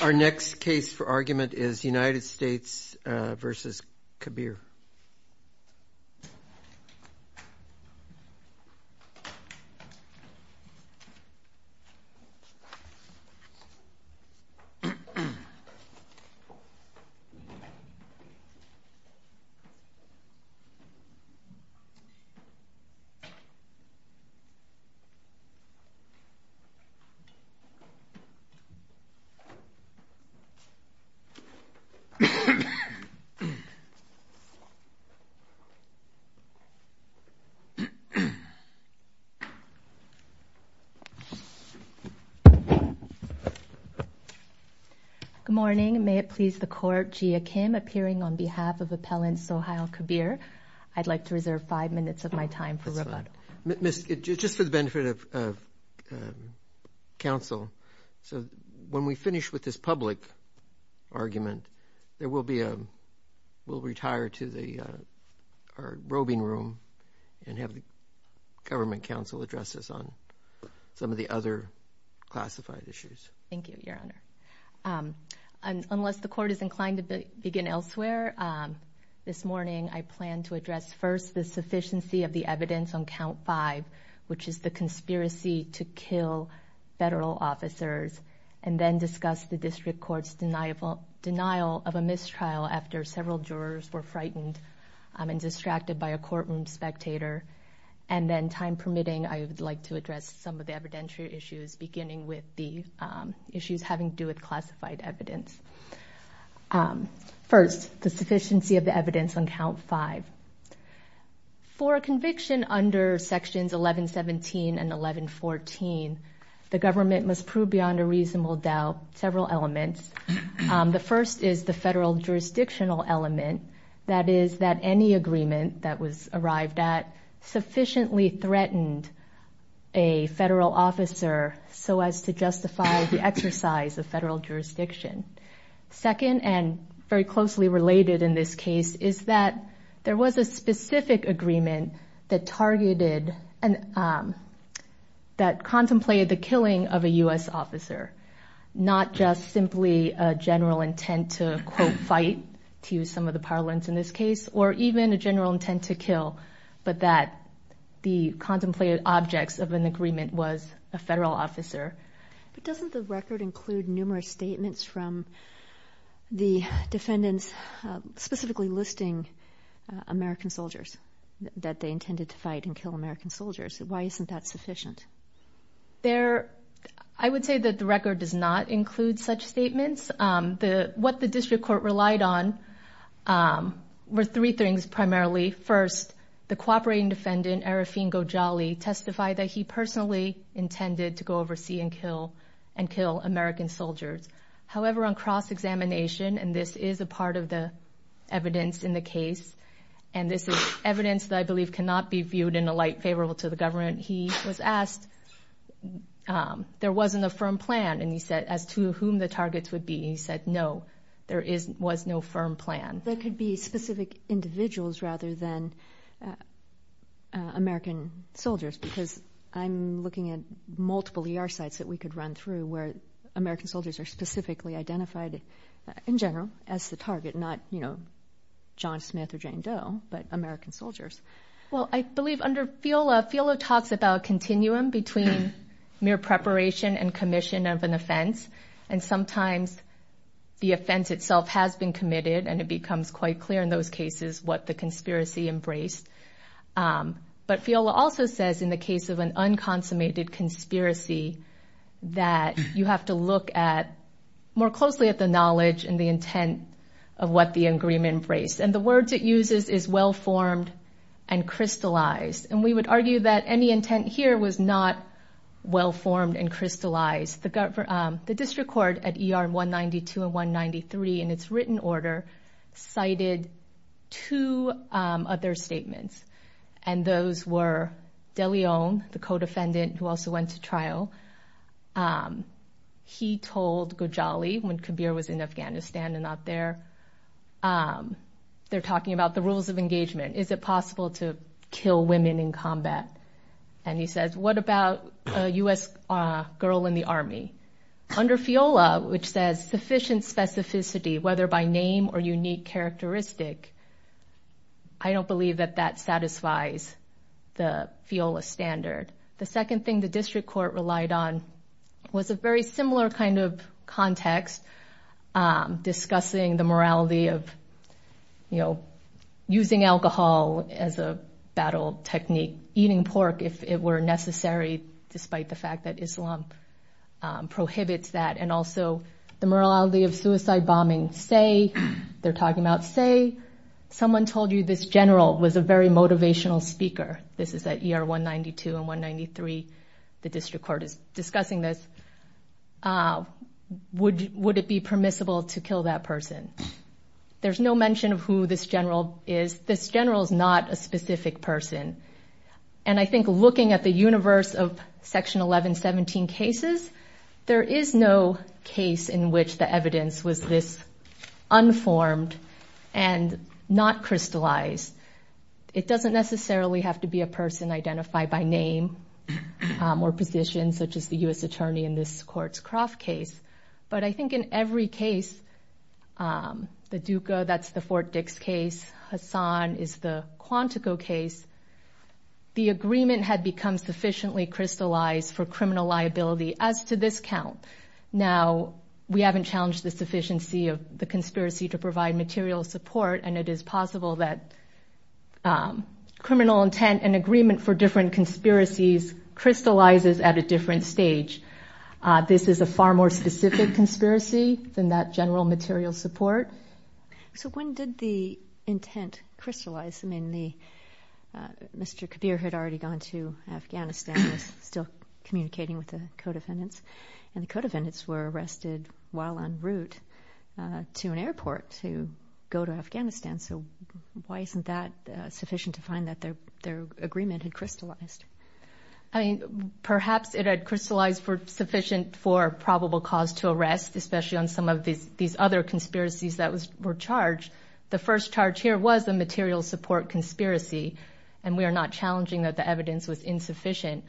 Our next case for argument is United States v. Kabir. Good morning. May it please the Court, Jia Kim appearing on behalf of Appellant Sohiel Kabir. I'd like to reserve five minutes of my time for rebuttal. Just for the benefit of counsel, when we finish with this public argument, we'll retire to our roving room and have the government counsel address us on some of the other classified issues. Thank you, Your Honor. Unless the Court is inclined to begin elsewhere, this morning I plan to address first the sufficiency of the evidence on Count 5, which is the conspiracy to kill federal officers, and then discuss the District Court's denial of a mistrial after several jurors were frightened and distracted by a courtroom spectator. And then, time permitting, I would like to address some of the evidentiary issues, beginning with the issues having to do with classified evidence. First, the sufficiency of the evidence on Count 5. For a conviction under Sections 1117 and 1114, the government must prove beyond a reasonable doubt several elements. The first is the federal jurisdictional element, that is, that any agreement that was arrived at sufficiently threatened a federal officer so as to justify the exercise of federal jurisdiction. Second, and very closely related in this case, is that there was a specific agreement that contemplated the killing of a U.S. officer. Not just simply a general intent to, quote, fight, to use some of the parlance in this case, or even a general intent to kill, but that the contemplated objects of an agreement was a federal officer. But doesn't the record include numerous statements from the defendants specifically listing American soldiers, that they intended to fight and kill American soldiers? Why isn't that sufficient? I would say that the record does not include such statements. What the district court relied on were three things primarily. First, the cooperating defendant, Arafin Gojali, testified that he personally intended to go oversee and kill American soldiers. However, on cross-examination, and this is a part of the evidence in the case, and this is evidence that I believe cannot be viewed in a light favorable to the government, he was asked, there wasn't a firm plan, and he said, as to whom the targets would be, and he said, no, there was no firm plan. There could be specific individuals rather than American soldiers, because I'm looking at multiple ER sites that we could run through where American soldiers are specifically identified, in general, as the target, not, you know, John Smith or Jane Doe, but American soldiers. Well, I believe under FIOLA, FIOLA talks about a continuum between mere preparation and commission of an offense, and sometimes the offense itself has been committed, and it becomes quite clear in those cases what the conspiracy embraced. But FIOLA also says in the case of an unconsummated conspiracy, that you have to look at, more closely at the knowledge and the intent of what the agreement embraced. And the words it uses is well-formed and crystallized, and we would argue that any intent here was not well-formed and crystallized. The district court at ER 192 and 193, in its written order, cited two other statements, and those were De Leon, the co-defendant who also went to trial. He told Gojali, when Kabir was in Afghanistan and not there, they're talking about the rules of engagement. Is it possible to kill women in combat? And he says, what about a U.S. girl in the Army? Under FIOLA, which says sufficient specificity, whether by name or unique characteristic, I don't believe that that satisfies the FIOLA standard. The second thing the district court relied on was a very similar kind of context, discussing the morality of using alcohol as a battle technique, eating pork if it were necessary, despite the fact that Islam prohibits that, and also the morality of suicide bombing. They're talking about, say, someone told you this general was a very motivational speaker. This is at ER 192 and 193. The district court is discussing this. Would it be permissible to kill that person? There's no mention of who this general is. This general is not a specific person. And I think looking at the universe of Section 1117 cases, there is no case in which the evidence was this unformed and not crystallized. It doesn't necessarily have to be a person identified by name or position, such as the U.S. attorney in this Courtscroft case. But I think in every case, the Duca, that's the Fort Dix case, Hassan is the Quantico case, the agreement had become sufficiently crystallized for criminal liability as to this count. Now, we haven't challenged the sufficiency of the conspiracy to provide material support, and it is possible that criminal intent and agreement for different conspiracies crystallizes at a different stage. This is a far more specific conspiracy than that general material support. So when did the intent crystallize? I mean, Mr. Kabir had already gone to Afghanistan, was still communicating with the co-defendants, and the co-defendants were arrested while en route to an airport to go to Afghanistan. So why isn't that sufficient to find that their agreement had crystallized? I mean, perhaps it had crystallized for sufficient for probable cause to arrest, especially on some of these other conspiracies that were charged. The first charge here was the material support conspiracy, and we are not challenging that the evidence was insufficient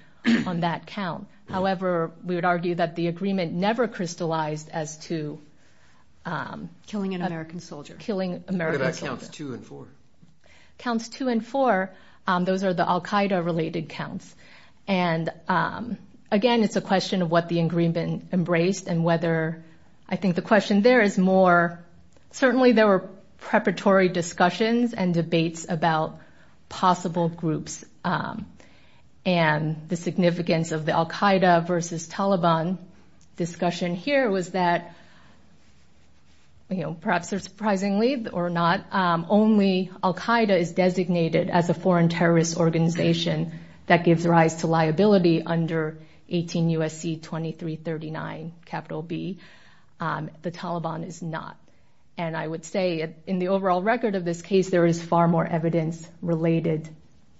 on that count. However, we would argue that the agreement never crystallized as to killing an American soldier. What about counts two and four? Counts two and four, those are the al-Qaeda related counts. And again, it's a question of what the agreement embraced and whether, I think the question there is more, certainly there were preparatory discussions and debates about possible groups. And the significance of the al-Qaeda versus Taliban discussion here was that, you know, perhaps surprisingly or not, only al-Qaeda is designated as a foreign terrorist organization that gives rise to liability under 18 U.S.C. 2339, capital B. The Taliban is not. And I would say in the overall record of this case, there is far more evidence related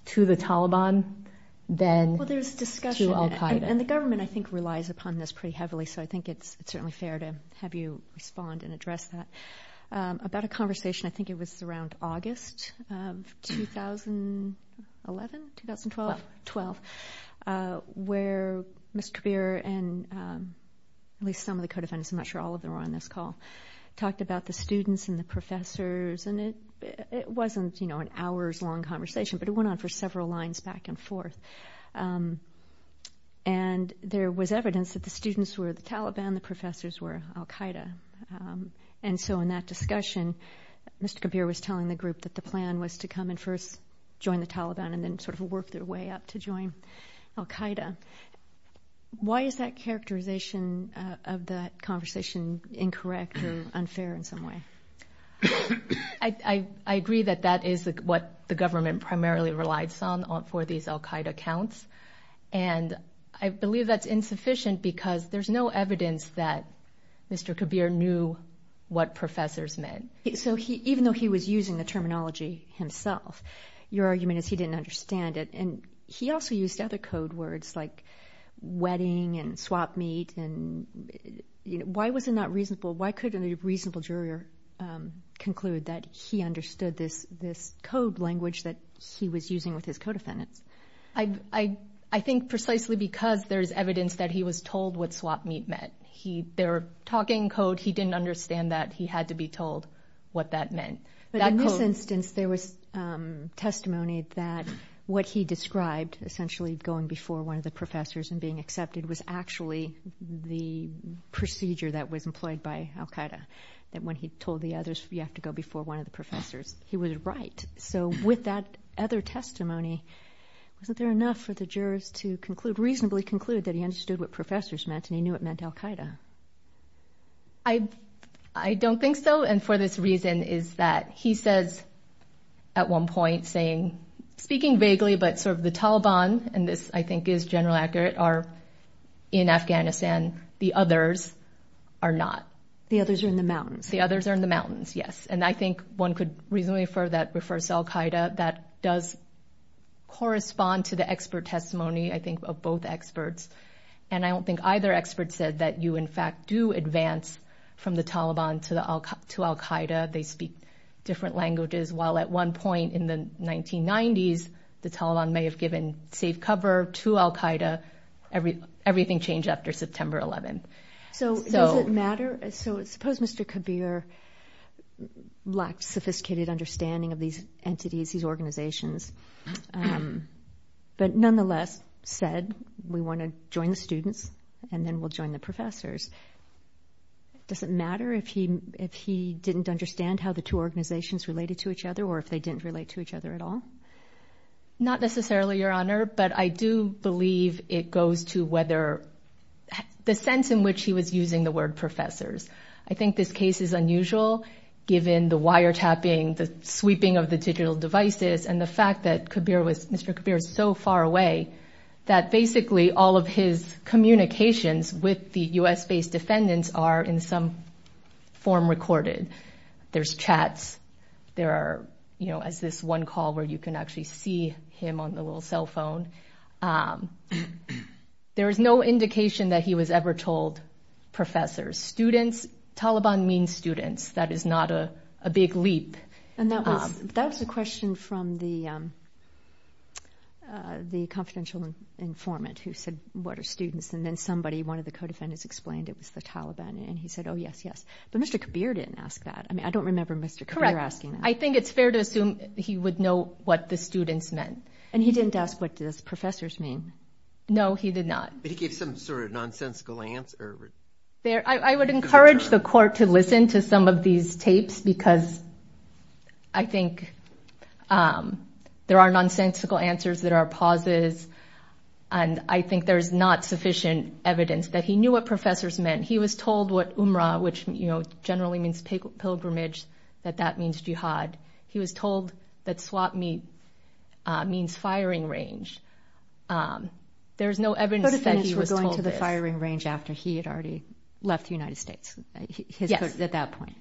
to the Taliban than to al-Qaeda. And the government, I think, relies upon this pretty heavily, so I think it's certainly fair to have you respond and address that. About a conversation, I think it was around August of 2011, 2012, where Mr. Kabir and at least some of the co-defendants, I'm not sure all of them were on this call, talked about the students and the professors. And it wasn't, you know, an hour's long conversation, but it went on for several lines back and forth. And there was evidence that the students were the Taliban, the professors were al-Qaeda. And so in that discussion, Mr. Kabir was telling the group that the plan was to come and first join the Taliban and then sort of work their way up to join al-Qaeda. Why is that characterization of that conversation incorrect or unfair in some way? I agree that that is what the government primarily relies on for these al-Qaeda counts. And I believe that's insufficient because there's no evidence that Mr. Kabir knew what professors meant. So even though he was using the terminology himself, your argument is he didn't understand it. And he also used other code words like wedding and swap meet. Why was it not reasonable? Why couldn't a reasonable juror conclude that he understood this code language that he was using with his co-defendants? I think precisely because there's evidence that he was told what swap meet meant. They were talking code. He didn't understand that. He had to be told what that meant. But in this instance, there was testimony that what he described, essentially going before one of the professors and being accepted, was actually the procedure that was employed by al-Qaeda, that when he told the others you have to go before one of the professors, he was right. So with that other testimony, wasn't there enough for the jurors to reasonably conclude that he understood what professors meant and he knew it meant al-Qaeda? I don't think so. And for this reason is that he says at one point saying, speaking vaguely, but sort of the Taliban, and this I think is generally accurate, are in Afghanistan. The others are not. The others are in the mountains. The others are in the mountains, yes. And I think one could reasonably refer that refers to al-Qaeda. That does correspond to the expert testimony, I think, of both experts. And I don't think either expert said that you, in fact, do advance from the Taliban to al-Qaeda. They speak different languages. While at one point in the 1990s, the Taliban may have given safe cover to al-Qaeda, everything changed after September 11th. So does it matter? So suppose Mr. Kabir lacked sophisticated understanding of these entities, these organizations, but nonetheless said we want to join the students and then we'll join the professors. Does it matter if he didn't understand how the two organizations related to each other or if they didn't relate to each other at all? Not necessarily, Your Honor. But I do believe it goes to whether the sense in which he was using the word professors. I think this case is unusual given the wiretapping, the sweeping of the digital devices and the fact that Mr. Kabir was so far away that basically all of his communications with the U.S.-based defendants are in some form recorded. There's chats. There are, you know, as this one call where you can actually see him on the little cell phone. There is no indication that he was ever told professors. Students, Taliban means students. That is not a big leap. And that was a question from the confidential informant who said, what are students? And then somebody, one of the co-defendants explained it was the Taliban. And he said, oh, yes, yes. But Mr. Kabir didn't ask that. I mean, I don't remember Mr. Kabir asking that. Correct. I think it's fair to assume he would know what the students meant. And he didn't ask, what does professors mean? No, he did not. But he gave some sort of nonsensical answer. I would encourage the court to listen to some of these tapes, because I think there are nonsensical answers that are pauses. And I think there's not sufficient evidence that he knew what professors meant. He was told what umrah, which, you know, generally means pilgrimage, that that means jihad. He was told that swap meet means firing range. There's no evidence that he was told this. He was told firing range after he had already left the United States at that point.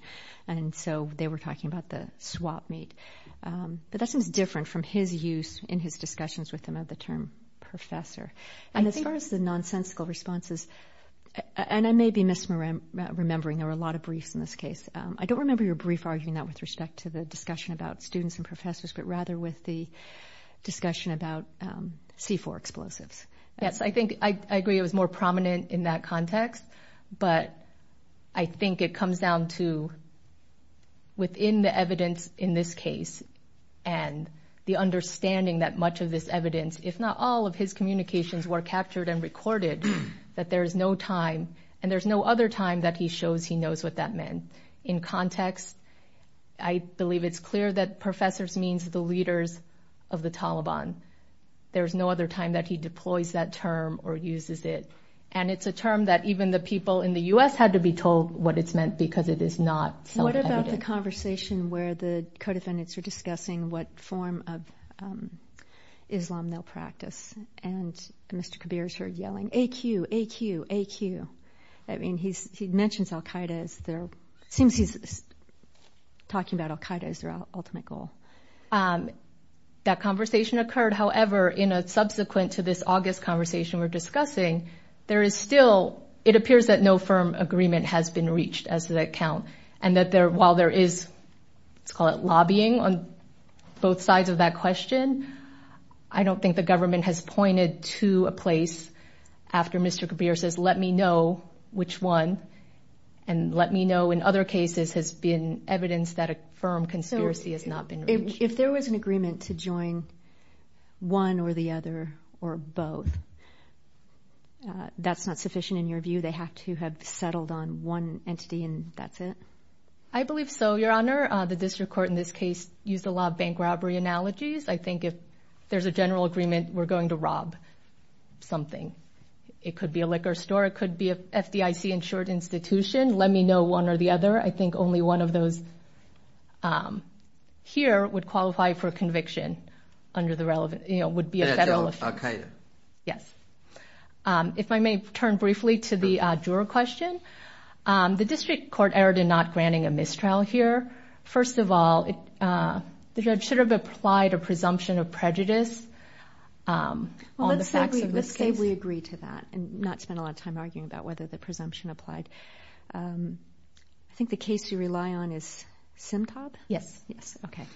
And so they were talking about the swap meet. But that seems different from his use in his discussions with him of the term professor. And as far as the nonsensical responses, and I may be misremembering, there were a lot of briefs in this case. I don't remember your brief arguing that with respect to the discussion about students and professors, but rather with the discussion about C-4 explosives. Yes, I think I agree it was more prominent in that context. But I think it comes down to within the evidence in this case and the understanding that much of this evidence, if not all of his communications were captured and recorded, that there is no time and there's no other time that he shows he knows what that meant. In context, I believe it's clear that professors means the leaders of the Taliban. There's no other time that he deploys that term or uses it. And it's a term that even the people in the U.S. had to be told what it's meant because it is not self-evident. What about the conversation where the co-defendants are discussing what form of Islam they'll practice? And Mr. Kabir's heard yelling, AQ, AQ, AQ. I mean, he mentions al-Qaeda as their, it seems he's talking about al-Qaeda as their ultimate goal. That conversation occurred. However, in a subsequent to this August conversation we're discussing, there is still, it appears that no firm agreement has been reached as of that count. And that while there is, let's call it lobbying on both sides of that question, I don't think the government has pointed to a place after Mr. Kabir says, let me know which one and let me know in other cases has been evidence that a firm conspiracy has not been reached. If there was an agreement to join one or the other or both, that's not sufficient in your view? They have to have settled on one entity and that's it? I believe so, Your Honor. The district court in this case used a lot of bank robbery analogies. I think if there's a general agreement we're going to rob something. It could be a liquor store. It could be an FDIC insured institution. Let me know one or the other. I think only one of those here would qualify for conviction under the relevant, would be a federal offense. Okay. Yes. If I may turn briefly to the juror question. The district court erred in not granting a mistrial here. First of all, the judge should have applied a presumption of prejudice on the facts of this case. Let's say we agree to that and not spend a lot of time arguing about whether the presumption applied. I think the case you rely on is Simtab? Yes. Okay.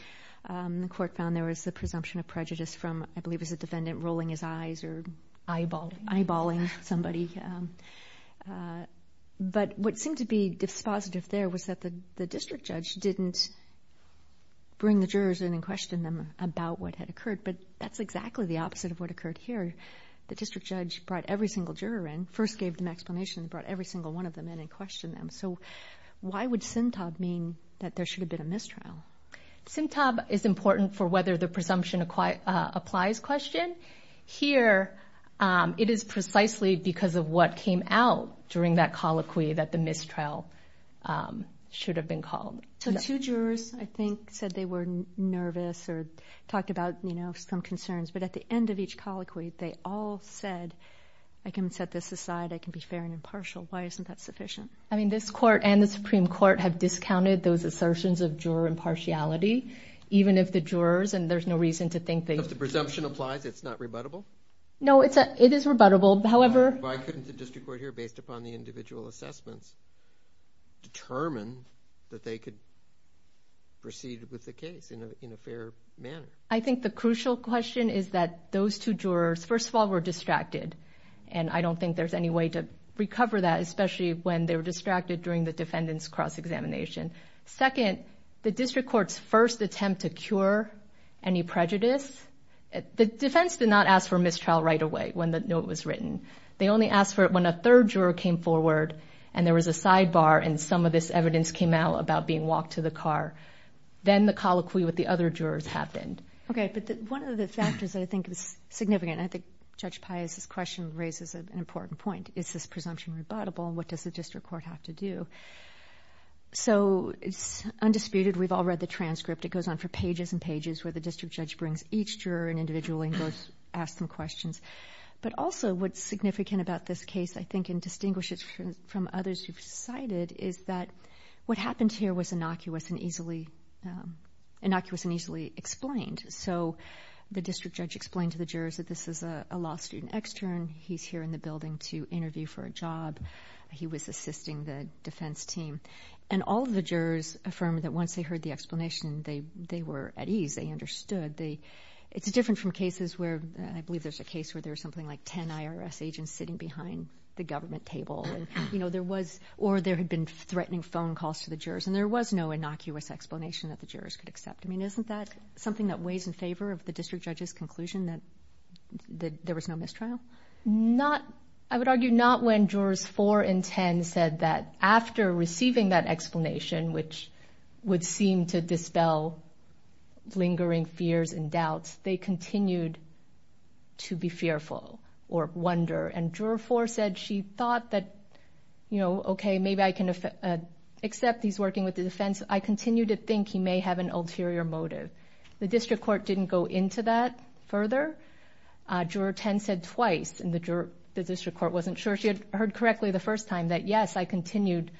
The court found there was a presumption of prejudice from, I believe it was a defendant rolling his eyes or eyeballing somebody. But what seemed to be dispositive there was that the district judge didn't bring the jurors in and question them about what had occurred. But that's exactly the opposite of what occurred here. The district judge brought every single juror in, first gave them explanation, brought every single one of them in and questioned them. So why would Simtab mean that there should have been a mistrial? Simtab is important for whether the presumption applies question. Here, it is precisely because of what came out during that colloquy that the mistrial should have been called. So two jurors, I think, said they were nervous or talked about some concerns. But at the end of each colloquy, they all said, I can set this aside. I can be fair and impartial. Why isn't that sufficient? I mean, this court and the Supreme Court have discounted those assertions of juror impartiality, even if the jurors, and there's no reason to think they – If the presumption applies, it's not rebuttable? No, it is rebuttable. However – Why couldn't the district court here, based upon the individual assessments, determine that they could proceed with the case in a fair manner? I think the crucial question is that those two jurors, first of all, were distracted. And I don't think there's any way to recover that, especially when they were distracted during the defendant's cross-examination. Second, the district court's first attempt to cure any prejudice – The defense did not ask for mistrial right away, when the note was written. They only asked for it when a third juror came forward, and there was a sidebar, and some of this evidence came out about being walked to the car. Then the colloquy with the other jurors happened. Okay, but one of the factors that I think is significant – I think Judge Pius's question raises an important point. Is this presumption rebuttable, and what does the district court have to do? So, it's undisputed. We've all read the transcript. It goes on for pages and pages, where the district judge brings each juror in individually and asks them questions. But also, what's significant about this case, I think, and distinguishes it from others you've cited, is that what happened here was innocuous and easily explained. So, the district judge explained to the jurors that this is a law student extern. He's here in the building to interview for a job. He was assisting the defense team. And all of the jurors affirmed that once they heard the explanation, they were at ease. They understood. It's different from cases where – I believe there's a case where there's something like 10 IRS agents sitting behind the government table, or there had been threatening phone calls to the jurors, and there was no innocuous explanation that the jurors could accept. I mean, isn't that something that weighs in favor of the district judge's conclusion that there was no mistrial? I would argue not when jurors 4 and 10 said that after receiving that explanation, which would seem to dispel lingering fears and doubts, they continued to be fearful or wonder. And juror 4 said she thought that, you know, okay, maybe I can accept he's working with the defense. I continue to think he may have an ulterior motive. The district court didn't go into that further. Juror 10 said twice, and the district court wasn't sure she had heard correctly the first time, that, yes, I continued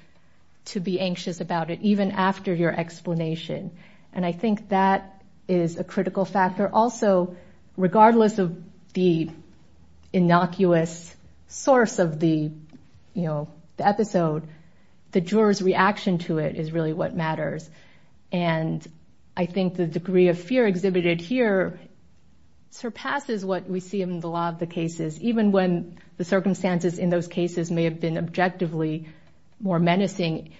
to be anxious about it even after your explanation. And I think that is a critical factor. Also, regardless of the innocuous source of the, you know, episode, the juror's reaction to it is really what matters. And I think the degree of fear exhibited here surpasses what we see in the law of the cases, even when the circumstances in those cases may have been objectively more menacing.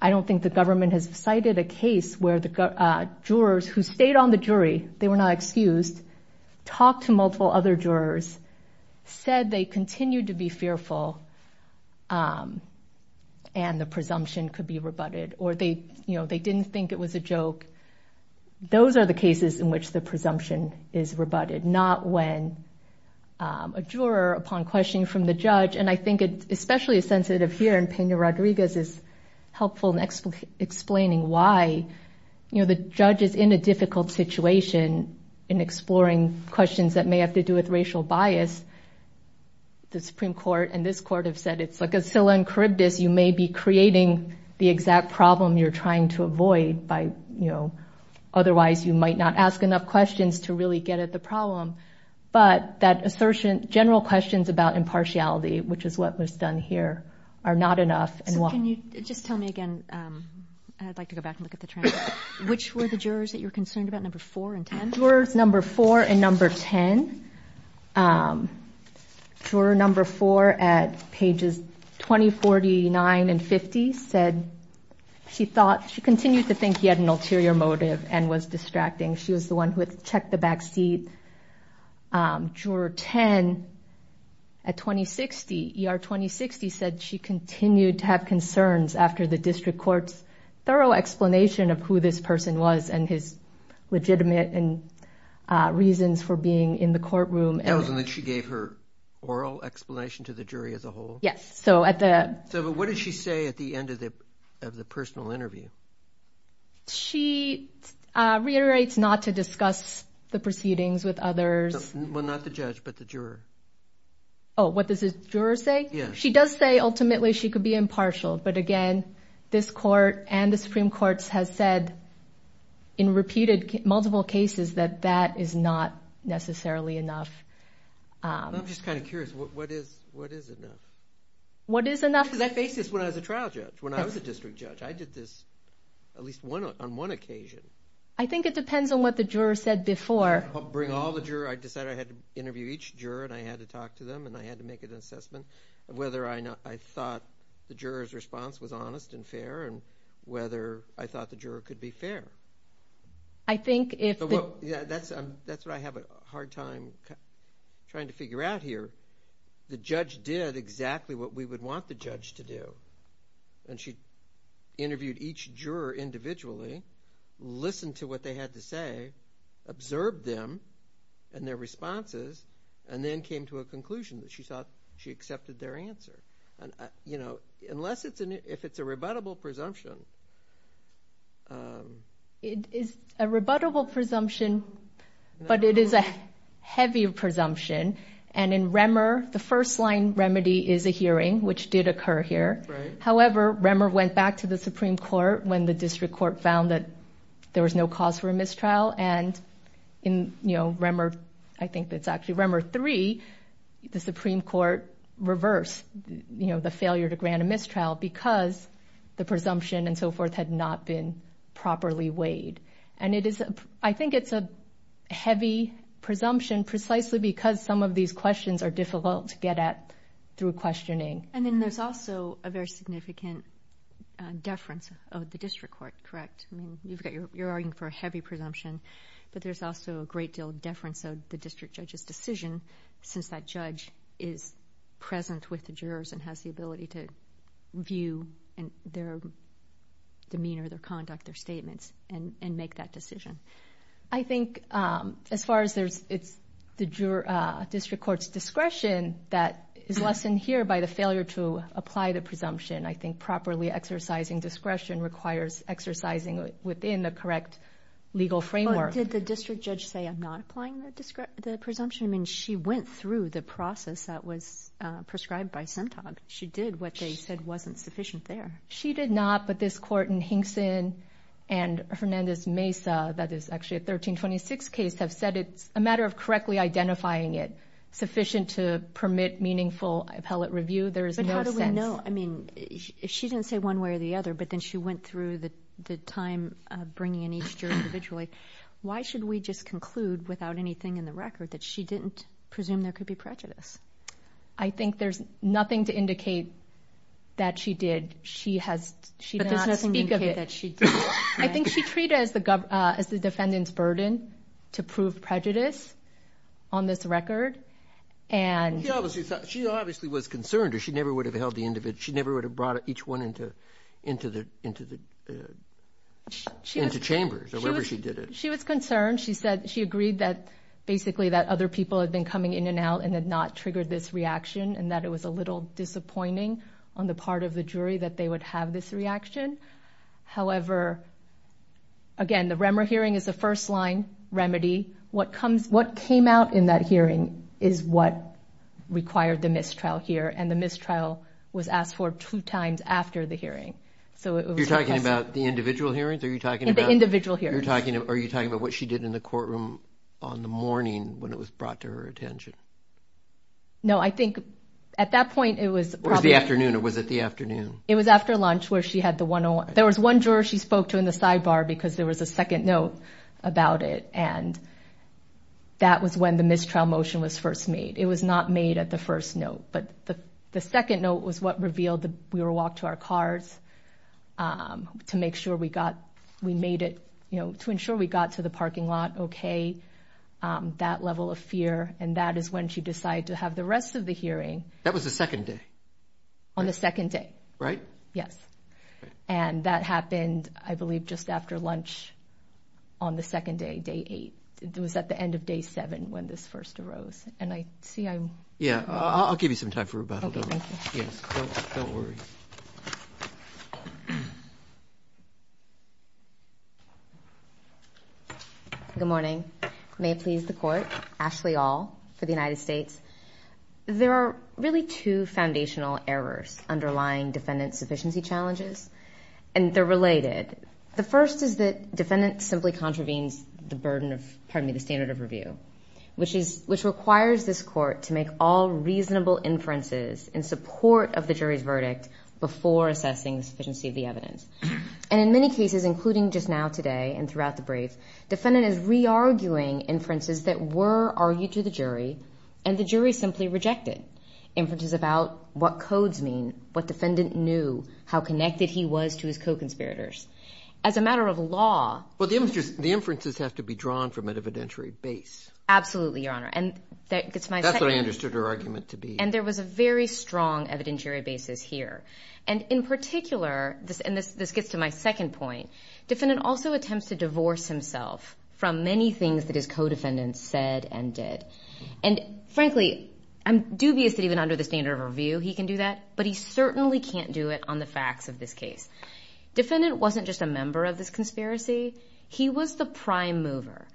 I don't think the government has cited a case where the jurors who stayed on the jury, they were not excused, talked to multiple other jurors, said they continued to be fearful, and the presumption could be rebutted, or they, you know, they didn't think it was a joke. Those are the cases in which the presumption is rebutted, not when a juror, upon questioning from the judge, and I think it especially is sensitive here, and Peña Rodriguez is helpful in explaining why, you know, the judge is in a difficult situation in exploring questions that may have to do with racial bias. The Supreme Court and this court have said it's like a Scylla and Charybdis. You may be creating the exact problem you're trying to avoid by, you know, otherwise you might not ask enough questions to really get at the problem. But that assertion, general questions about impartiality, which is what was done here, are not enough. So can you just tell me again, I'd like to go back and look at the transcript, which were the jurors that you're concerned about, number four and ten? Juror number four at pages 20, 49, and 50 said she thought, she continued to think he had an ulterior motive and was distracting. She was the one who had checked the backseat. Juror ten at 2060, ER 2060, said she continued to have concerns after the district court's thorough explanation of who this person was and his legitimate reasons for being in the courtroom. That was when she gave her oral explanation to the jury as a whole? Yes. So what did she say at the end of the personal interview? She reiterates not to discuss the proceedings with others. Well, not the judge, but the juror. Oh, what does the juror say? Yes. She does say ultimately she could be impartial. But again, this court and the Supreme Court has said in repeated multiple cases that that is not necessarily enough. I'm just kind of curious. What is enough? What is enough? Because I faced this when I was a trial judge, when I was a district judge. I did this at least on one occasion. I think it depends on what the juror said before. Bring all the jurors. I decided I had to interview each juror, and I had to talk to them, and I had to make an assessment of whether I thought the juror's response was honest and fair and whether I thought the juror could be fair. That's what I have a hard time trying to figure out here. The judge did exactly what we would want the judge to do, and she interviewed each juror individually, listened to what they had to say, observed them and their responses, and then came to a conclusion that she thought she accepted their answer. Unless it's a rebuttable presumption. It is a rebuttable presumption, but it is a heavy presumption. And in Remmer, the first-line remedy is a hearing, which did occur here. However, Remmer went back to the Supreme Court when the district court found that there was no cause for a mistrial, and in Remmer 3, the Supreme Court reversed the failure to grant a mistrial because the presumption and so forth had not been properly weighed. I think it's a heavy presumption precisely because some of these questions are difficult to get at through questioning. And then there's also a very significant deference of the district court, correct? I mean, you're arguing for a heavy presumption, but there's also a great deal of deference of the district judge's decision since that judge is present with the jurors and has the ability to view their demeanor, their conduct, their statements, and make that decision. I think as far as there's the district court's discretion, that is lessened here by the failure to apply the presumption. I think properly exercising discretion requires exercising within the correct legal framework. But did the district judge say, I'm not applying the presumption? I mean, she went through the process that was prescribed by SEMTOG. She did what they said wasn't sufficient there. She did not, but this court in Hinkson and Hernandez Mesa, that is actually a 1326 case, have said it's a matter of correctly identifying it sufficient to permit meaningful appellate review. There is no sense. But how do we know? I mean, she didn't say one way or the other, but then she went through the time bringing in each jury individually. Why should we just conclude without anything in the record that she didn't presume there could be prejudice? I think there's nothing to indicate that she did. But there's nothing to indicate that she did. I think she treated it as the defendant's burden to prove prejudice on this record. She obviously was concerned, or she never would have held the individual, she never would have brought each one into chambers, or whatever she did it. She was concerned. She agreed that basically that other people had been coming in and out and had not triggered this reaction, and that it was a little disappointing on the part of the jury that they would have this reaction. However, again, the Remmer hearing is a first-line remedy. What came out in that hearing is what required the mistrial here, and the mistrial was asked for two times after the hearing. You're talking about the individual hearings? The individual hearings. Are you talking about what she did in the courtroom on the morning when it was brought to her attention? No, I think at that point it was probably. It was the afternoon, or was it the afternoon? It was after lunch where she had the 101. There was one juror she spoke to in the sidebar because there was a second note about it, and that was when the mistrial motion was first made. It was not made at the first note. But the second note was what revealed that we were walked to our cars to make sure we got, we made it, you know, to ensure we got to the parking lot okay. That level of fear, and that is when she decided to have the rest of the hearing. That was the second day? On the second day. Right? Yes. And that happened, I believe, just after lunch on the second day, day eight. It was at the end of day seven when this first arose. And I see I'm... Yeah, I'll give you some time for rebuttal. Okay, thank you. Yes, don't worry. Good morning. May it please the Court. Ashley Aul for the United States. There are really two foundational errors underlying defendant sufficiency challenges, and they're related. The first is that defendant simply contravenes the burden of, pardon me, the standard of review, which requires this Court to make all reasonable inferences in support of the jury's verdict before assessing the sufficiency of the evidence. And in many cases, including just now today and throughout the brief, defendant is re-arguing inferences that were argued to the jury, and the jury simply rejected inferences about what codes mean, what defendant knew, how connected he was to his co-conspirators. As a matter of law... Absolutely, Your Honor. That's what I understood her argument to be. And there was a very strong evidentiary basis here. And in particular, and this gets to my second point, defendant also attempts to divorce himself from many things that his co-defendants said and did. And frankly, I'm dubious that even under the standard of review he can do that, but he certainly can't do it on the facts of this case. Defendant wasn't just a member of this conspiracy. He was the prime mover.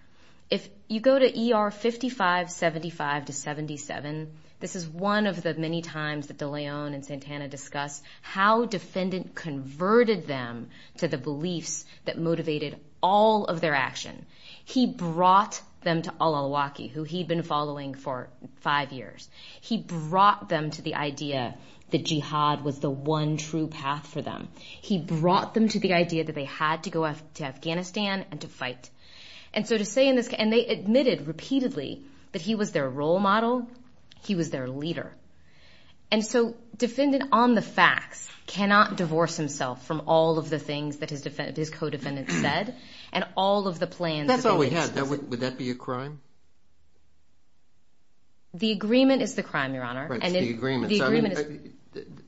If you go to ER 5575 to 77, this is one of the many times that de Leon and Santana discuss how defendant converted them to the beliefs that motivated all of their action. He brought them to al-Awlaki, who he'd been following for five years. He brought them to the idea that jihad was the one true path for them. He brought them to the idea that they had to go to Afghanistan and to fight. And so to say in this case, and they admitted repeatedly that he was their role model. He was their leader. And so defendant on the facts cannot divorce himself from all of the things that his co-defendants said and all of the plans. That's all we had. Would that be a crime? The agreement is the crime, Your Honor. Right, it's the agreement.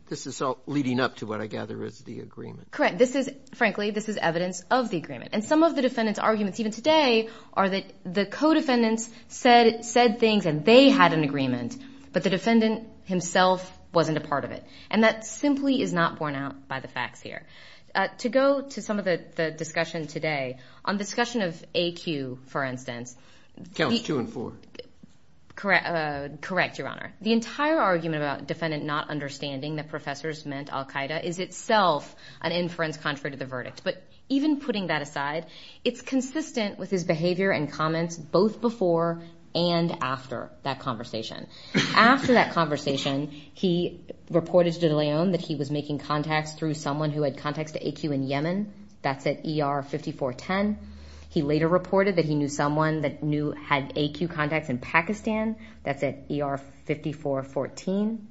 This is all leading up to what I gather is the agreement. Correct. This is, frankly, this is evidence of the agreement. And some of the defendant's arguments, even today, are that the co-defendants said things and they had an agreement, but the defendant himself wasn't a part of it. And that simply is not borne out by the facts here. To go to some of the discussion today, on the discussion of AQ, for instance. Counts two and four. Correct, Your Honor. The entire argument about defendant not understanding that professors meant al-Qaeda is itself an inference contrary to the verdict. But even putting that aside, it's consistent with his behavior and comments both before and after that conversation. After that conversation, he reported to de Leon that he was making contacts through someone who had contacts to AQ in Yemen. That's at ER 5410. He later reported that he knew someone that had AQ contacts in Pakistan. That's at ER 5414.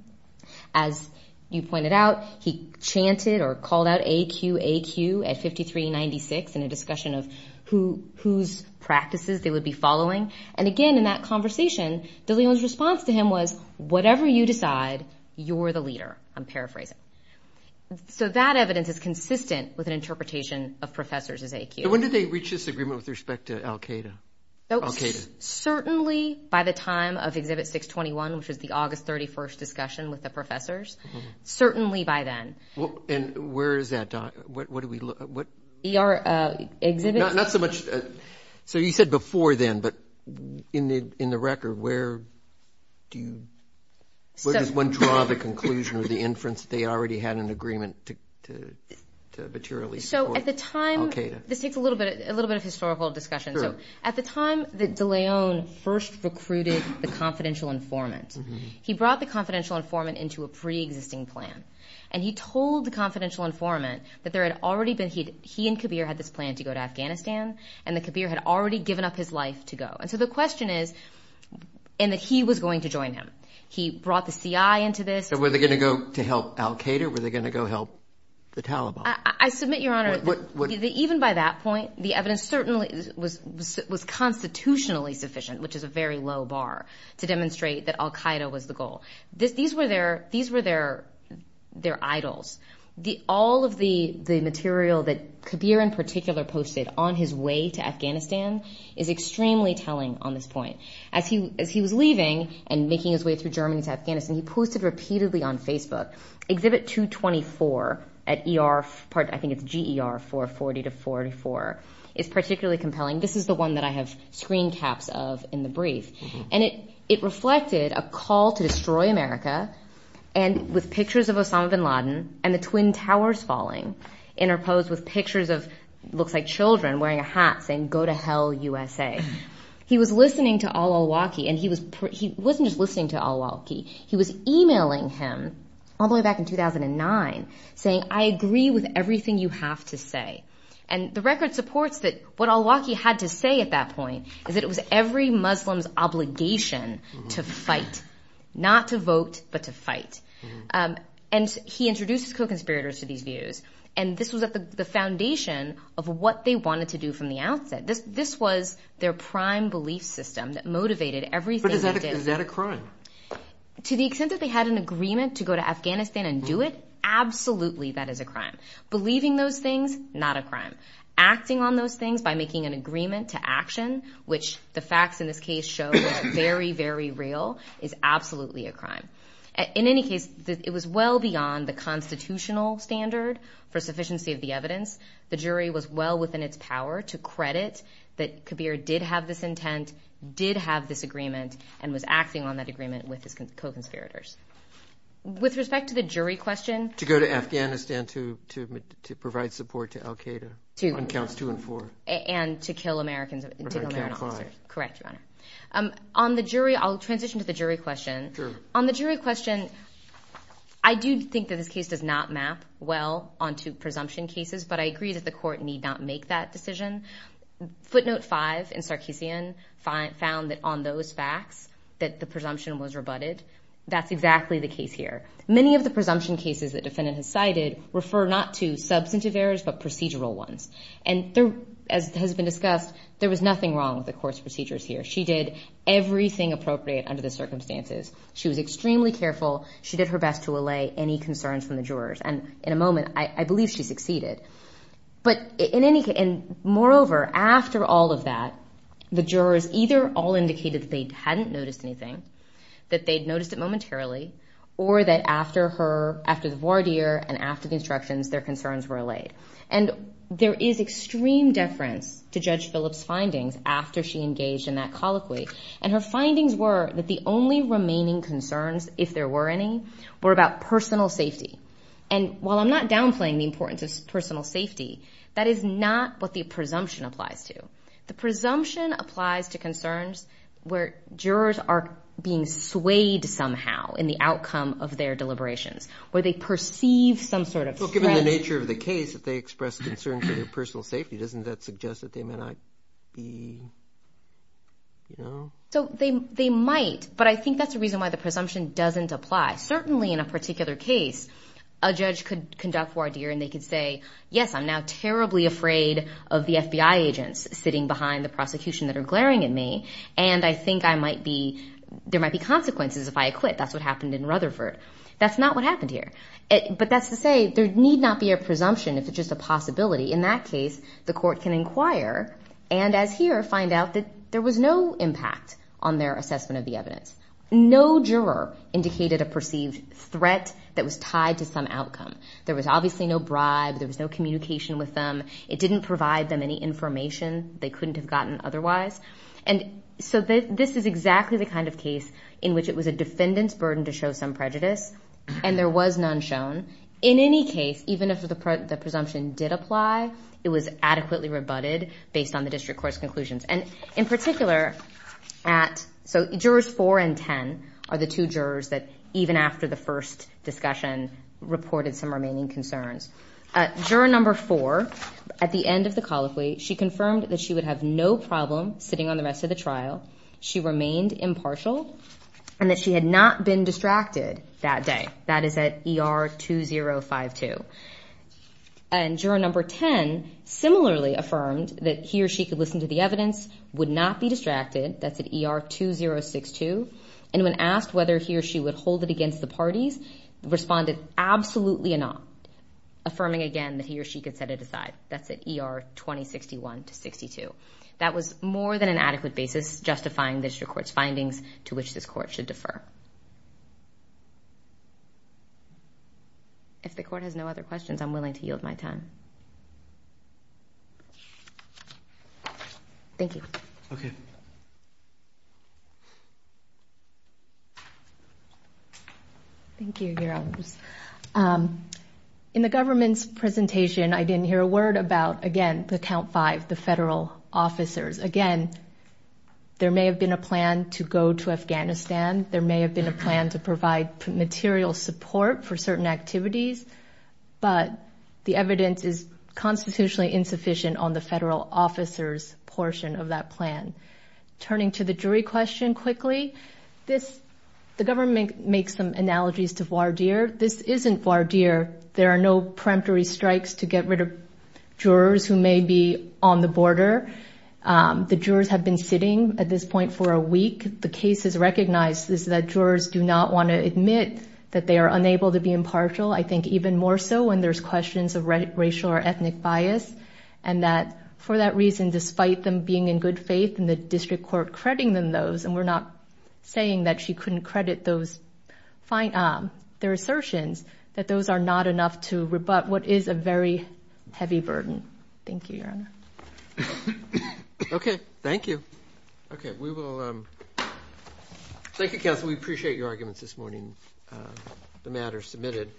As you pointed out, he chanted or called out AQ, AQ at 5396 in a discussion of whose practices they would be following. And again, in that conversation, de Leon's response to him was, whatever you decide, you're the leader. I'm paraphrasing. So that evidence is consistent with an interpretation of professors as AQ. When did they reach this agreement with respect to al-Qaeda? Certainly by the time of Exhibit 621, which was the August 31st discussion with the professors. Certainly by then. And where is that? ER exhibit? Not so much. So you said before then, but in the record, where does one draw the conclusion or the inference that they already had an agreement to materially support al-Qaeda? This takes a little bit of historical discussion. So at the time that de Leon first recruited the confidential informant, he brought the confidential informant into a preexisting plan, and he told the confidential informant that there had already been he and Kabir had this plan to go to Afghanistan, and that Kabir had already given up his life to go. And so the question is, and that he was going to join him. He brought the CI into this. So were they going to go to help al-Qaeda? Were they going to go help the Taliban? I submit, Your Honor, that even by that point, the evidence certainly was constitutionally sufficient, which is a very low bar, to demonstrate that al-Qaeda was the goal. These were their idols. All of the material that Kabir in particular posted on his way to Afghanistan is extremely telling on this point. As he was leaving and making his way through Germany to Afghanistan, he posted repeatedly on Facebook, Exhibit 224 at ER, I think it's GER 440-44, is particularly compelling. This is the one that I have screen caps of in the brief. And it reflected a call to destroy America with pictures of Osama bin Laden and the Twin Towers falling interposed with pictures of what looks like children wearing a hat saying, Go to Hell, USA. He was listening to al-Awlaki, and he wasn't just listening to al-Awlaki. He was emailing him all the way back in 2009 saying, I agree with everything you have to say. And the record supports that what al-Awlaki had to say at that point is that it was every Muslim's obligation to fight, not to vote, but to fight. And he introduces co-conspirators to these views, and this was at the foundation of what they wanted to do from the outset. This was their prime belief system that motivated everything they did. Is that a crime? To the extent that they had an agreement to go to Afghanistan and do it, absolutely that is a crime. Believing those things, not a crime. Acting on those things by making an agreement to action, which the facts in this case show are very, very real, is absolutely a crime. In any case, it was well beyond the constitutional standard for sufficiency of the evidence. The jury was well within its power to credit that Kabir did have this intent, did have this agreement, and was acting on that agreement with his co-conspirators. With respect to the jury question. To go to Afghanistan to provide support to al-Qaeda on counts two and four. And to kill American officers. Correct, Your Honor. On the jury, I'll transition to the jury question. On the jury question, I do think that this case does not map well onto presumption cases, but I agree that the court need not make that decision. Footnote five in Sarkeesian found that on those facts that the presumption was rebutted. That's exactly the case here. Many of the presumption cases that the defendant has cited refer not to substantive errors, but procedural ones. And as has been discussed, there was nothing wrong with the court's procedures here. She did everything appropriate under the circumstances. She was extremely careful. She did her best to allay any concerns from the jurors. And in a moment, I believe she succeeded. And moreover, after all of that, the jurors either all indicated that they hadn't noticed anything, that they'd noticed it momentarily, or that after the voir dire and after the instructions, their concerns were allayed. And there is extreme deference to Judge Phillips' findings after she engaged in that colloquy. And her findings were that the only remaining concerns, if there were any, were about personal safety. And while I'm not downplaying the importance of personal safety, that is not what the presumption applies to. The presumption applies to concerns where jurors are being swayed somehow in the outcome of their deliberations, where they perceive some sort of threat. Well, given the nature of the case, if they express concern for their personal safety, doesn't that suggest that they may not be, you know... So they might, but I think that's the reason why the presumption doesn't apply. Certainly in a particular case, a judge could conduct voir dire and they could say, yes, I'm now terribly afraid of the FBI agents sitting behind the prosecution that are glaring at me, and I think I might be... there might be consequences if I acquit. That's what happened in Rutherford. That's not what happened here. But that's to say there need not be a presumption if it's just a possibility. In that case, the court can inquire and, as here, find out that there was no impact on their assessment of the evidence. No juror indicated a perceived threat that was tied to some outcome. There was obviously no bribe. There was no communication with them. It didn't provide them any information they couldn't have gotten otherwise. And so this is exactly the kind of case in which it was a defendant's burden to show some prejudice, and there was none shown. In any case, even if the presumption did apply, it was adequately rebutted based on the district court's conclusions. And in particular, at... So jurors 4 and 10 are the two jurors that even after the first discussion reported some remaining concerns. Juror number 4, at the end of the colloquy, she confirmed that she would have no problem sitting on the rest of the trial, she remained impartial, and that she had not been distracted that day. That is at ER 2052. And juror number 10 similarly affirmed that he or she could listen to the evidence, would not be distracted, that's at ER 2062, and when asked whether he or she would hold it against the parties, responded, absolutely not, affirming again that he or she could set it aside. That's at ER 2061 to 62. That was more than an adequate basis justifying the district court's findings to which this court should defer. If the court has no other questions, I'm willing to yield my time. Thank you. Okay. Thank you, Your Honors. In the government's presentation, I didn't hear a word about, again, the Count Five, the federal officers. Again, there may have been a plan to go to Afghanistan, there may have been a plan to provide material support for certain activities, but the evidence is constitutionally insufficient on the federal officers portion of that plan. Turning to the jury question quickly, the government makes some analogies to voir dire. This isn't voir dire. There are no peremptory strikes to get rid of jurors who may be on the border. The jurors have been sitting at this point for a week. The case is recognized that jurors do not want to admit that they are unable to be impartial, I think even more so when there's questions of racial or ethnic bias, and that for that reason, despite them being in good faith and the district court crediting them those, and we're not saying that she couldn't credit their assertions, that those are not enough to rebut what is a very heavy burden. Thank you, Your Honor. Okay. Thank you. Okay, we will... Thank you, Counsel. We appreciate your arguments this morning, the matters submitted.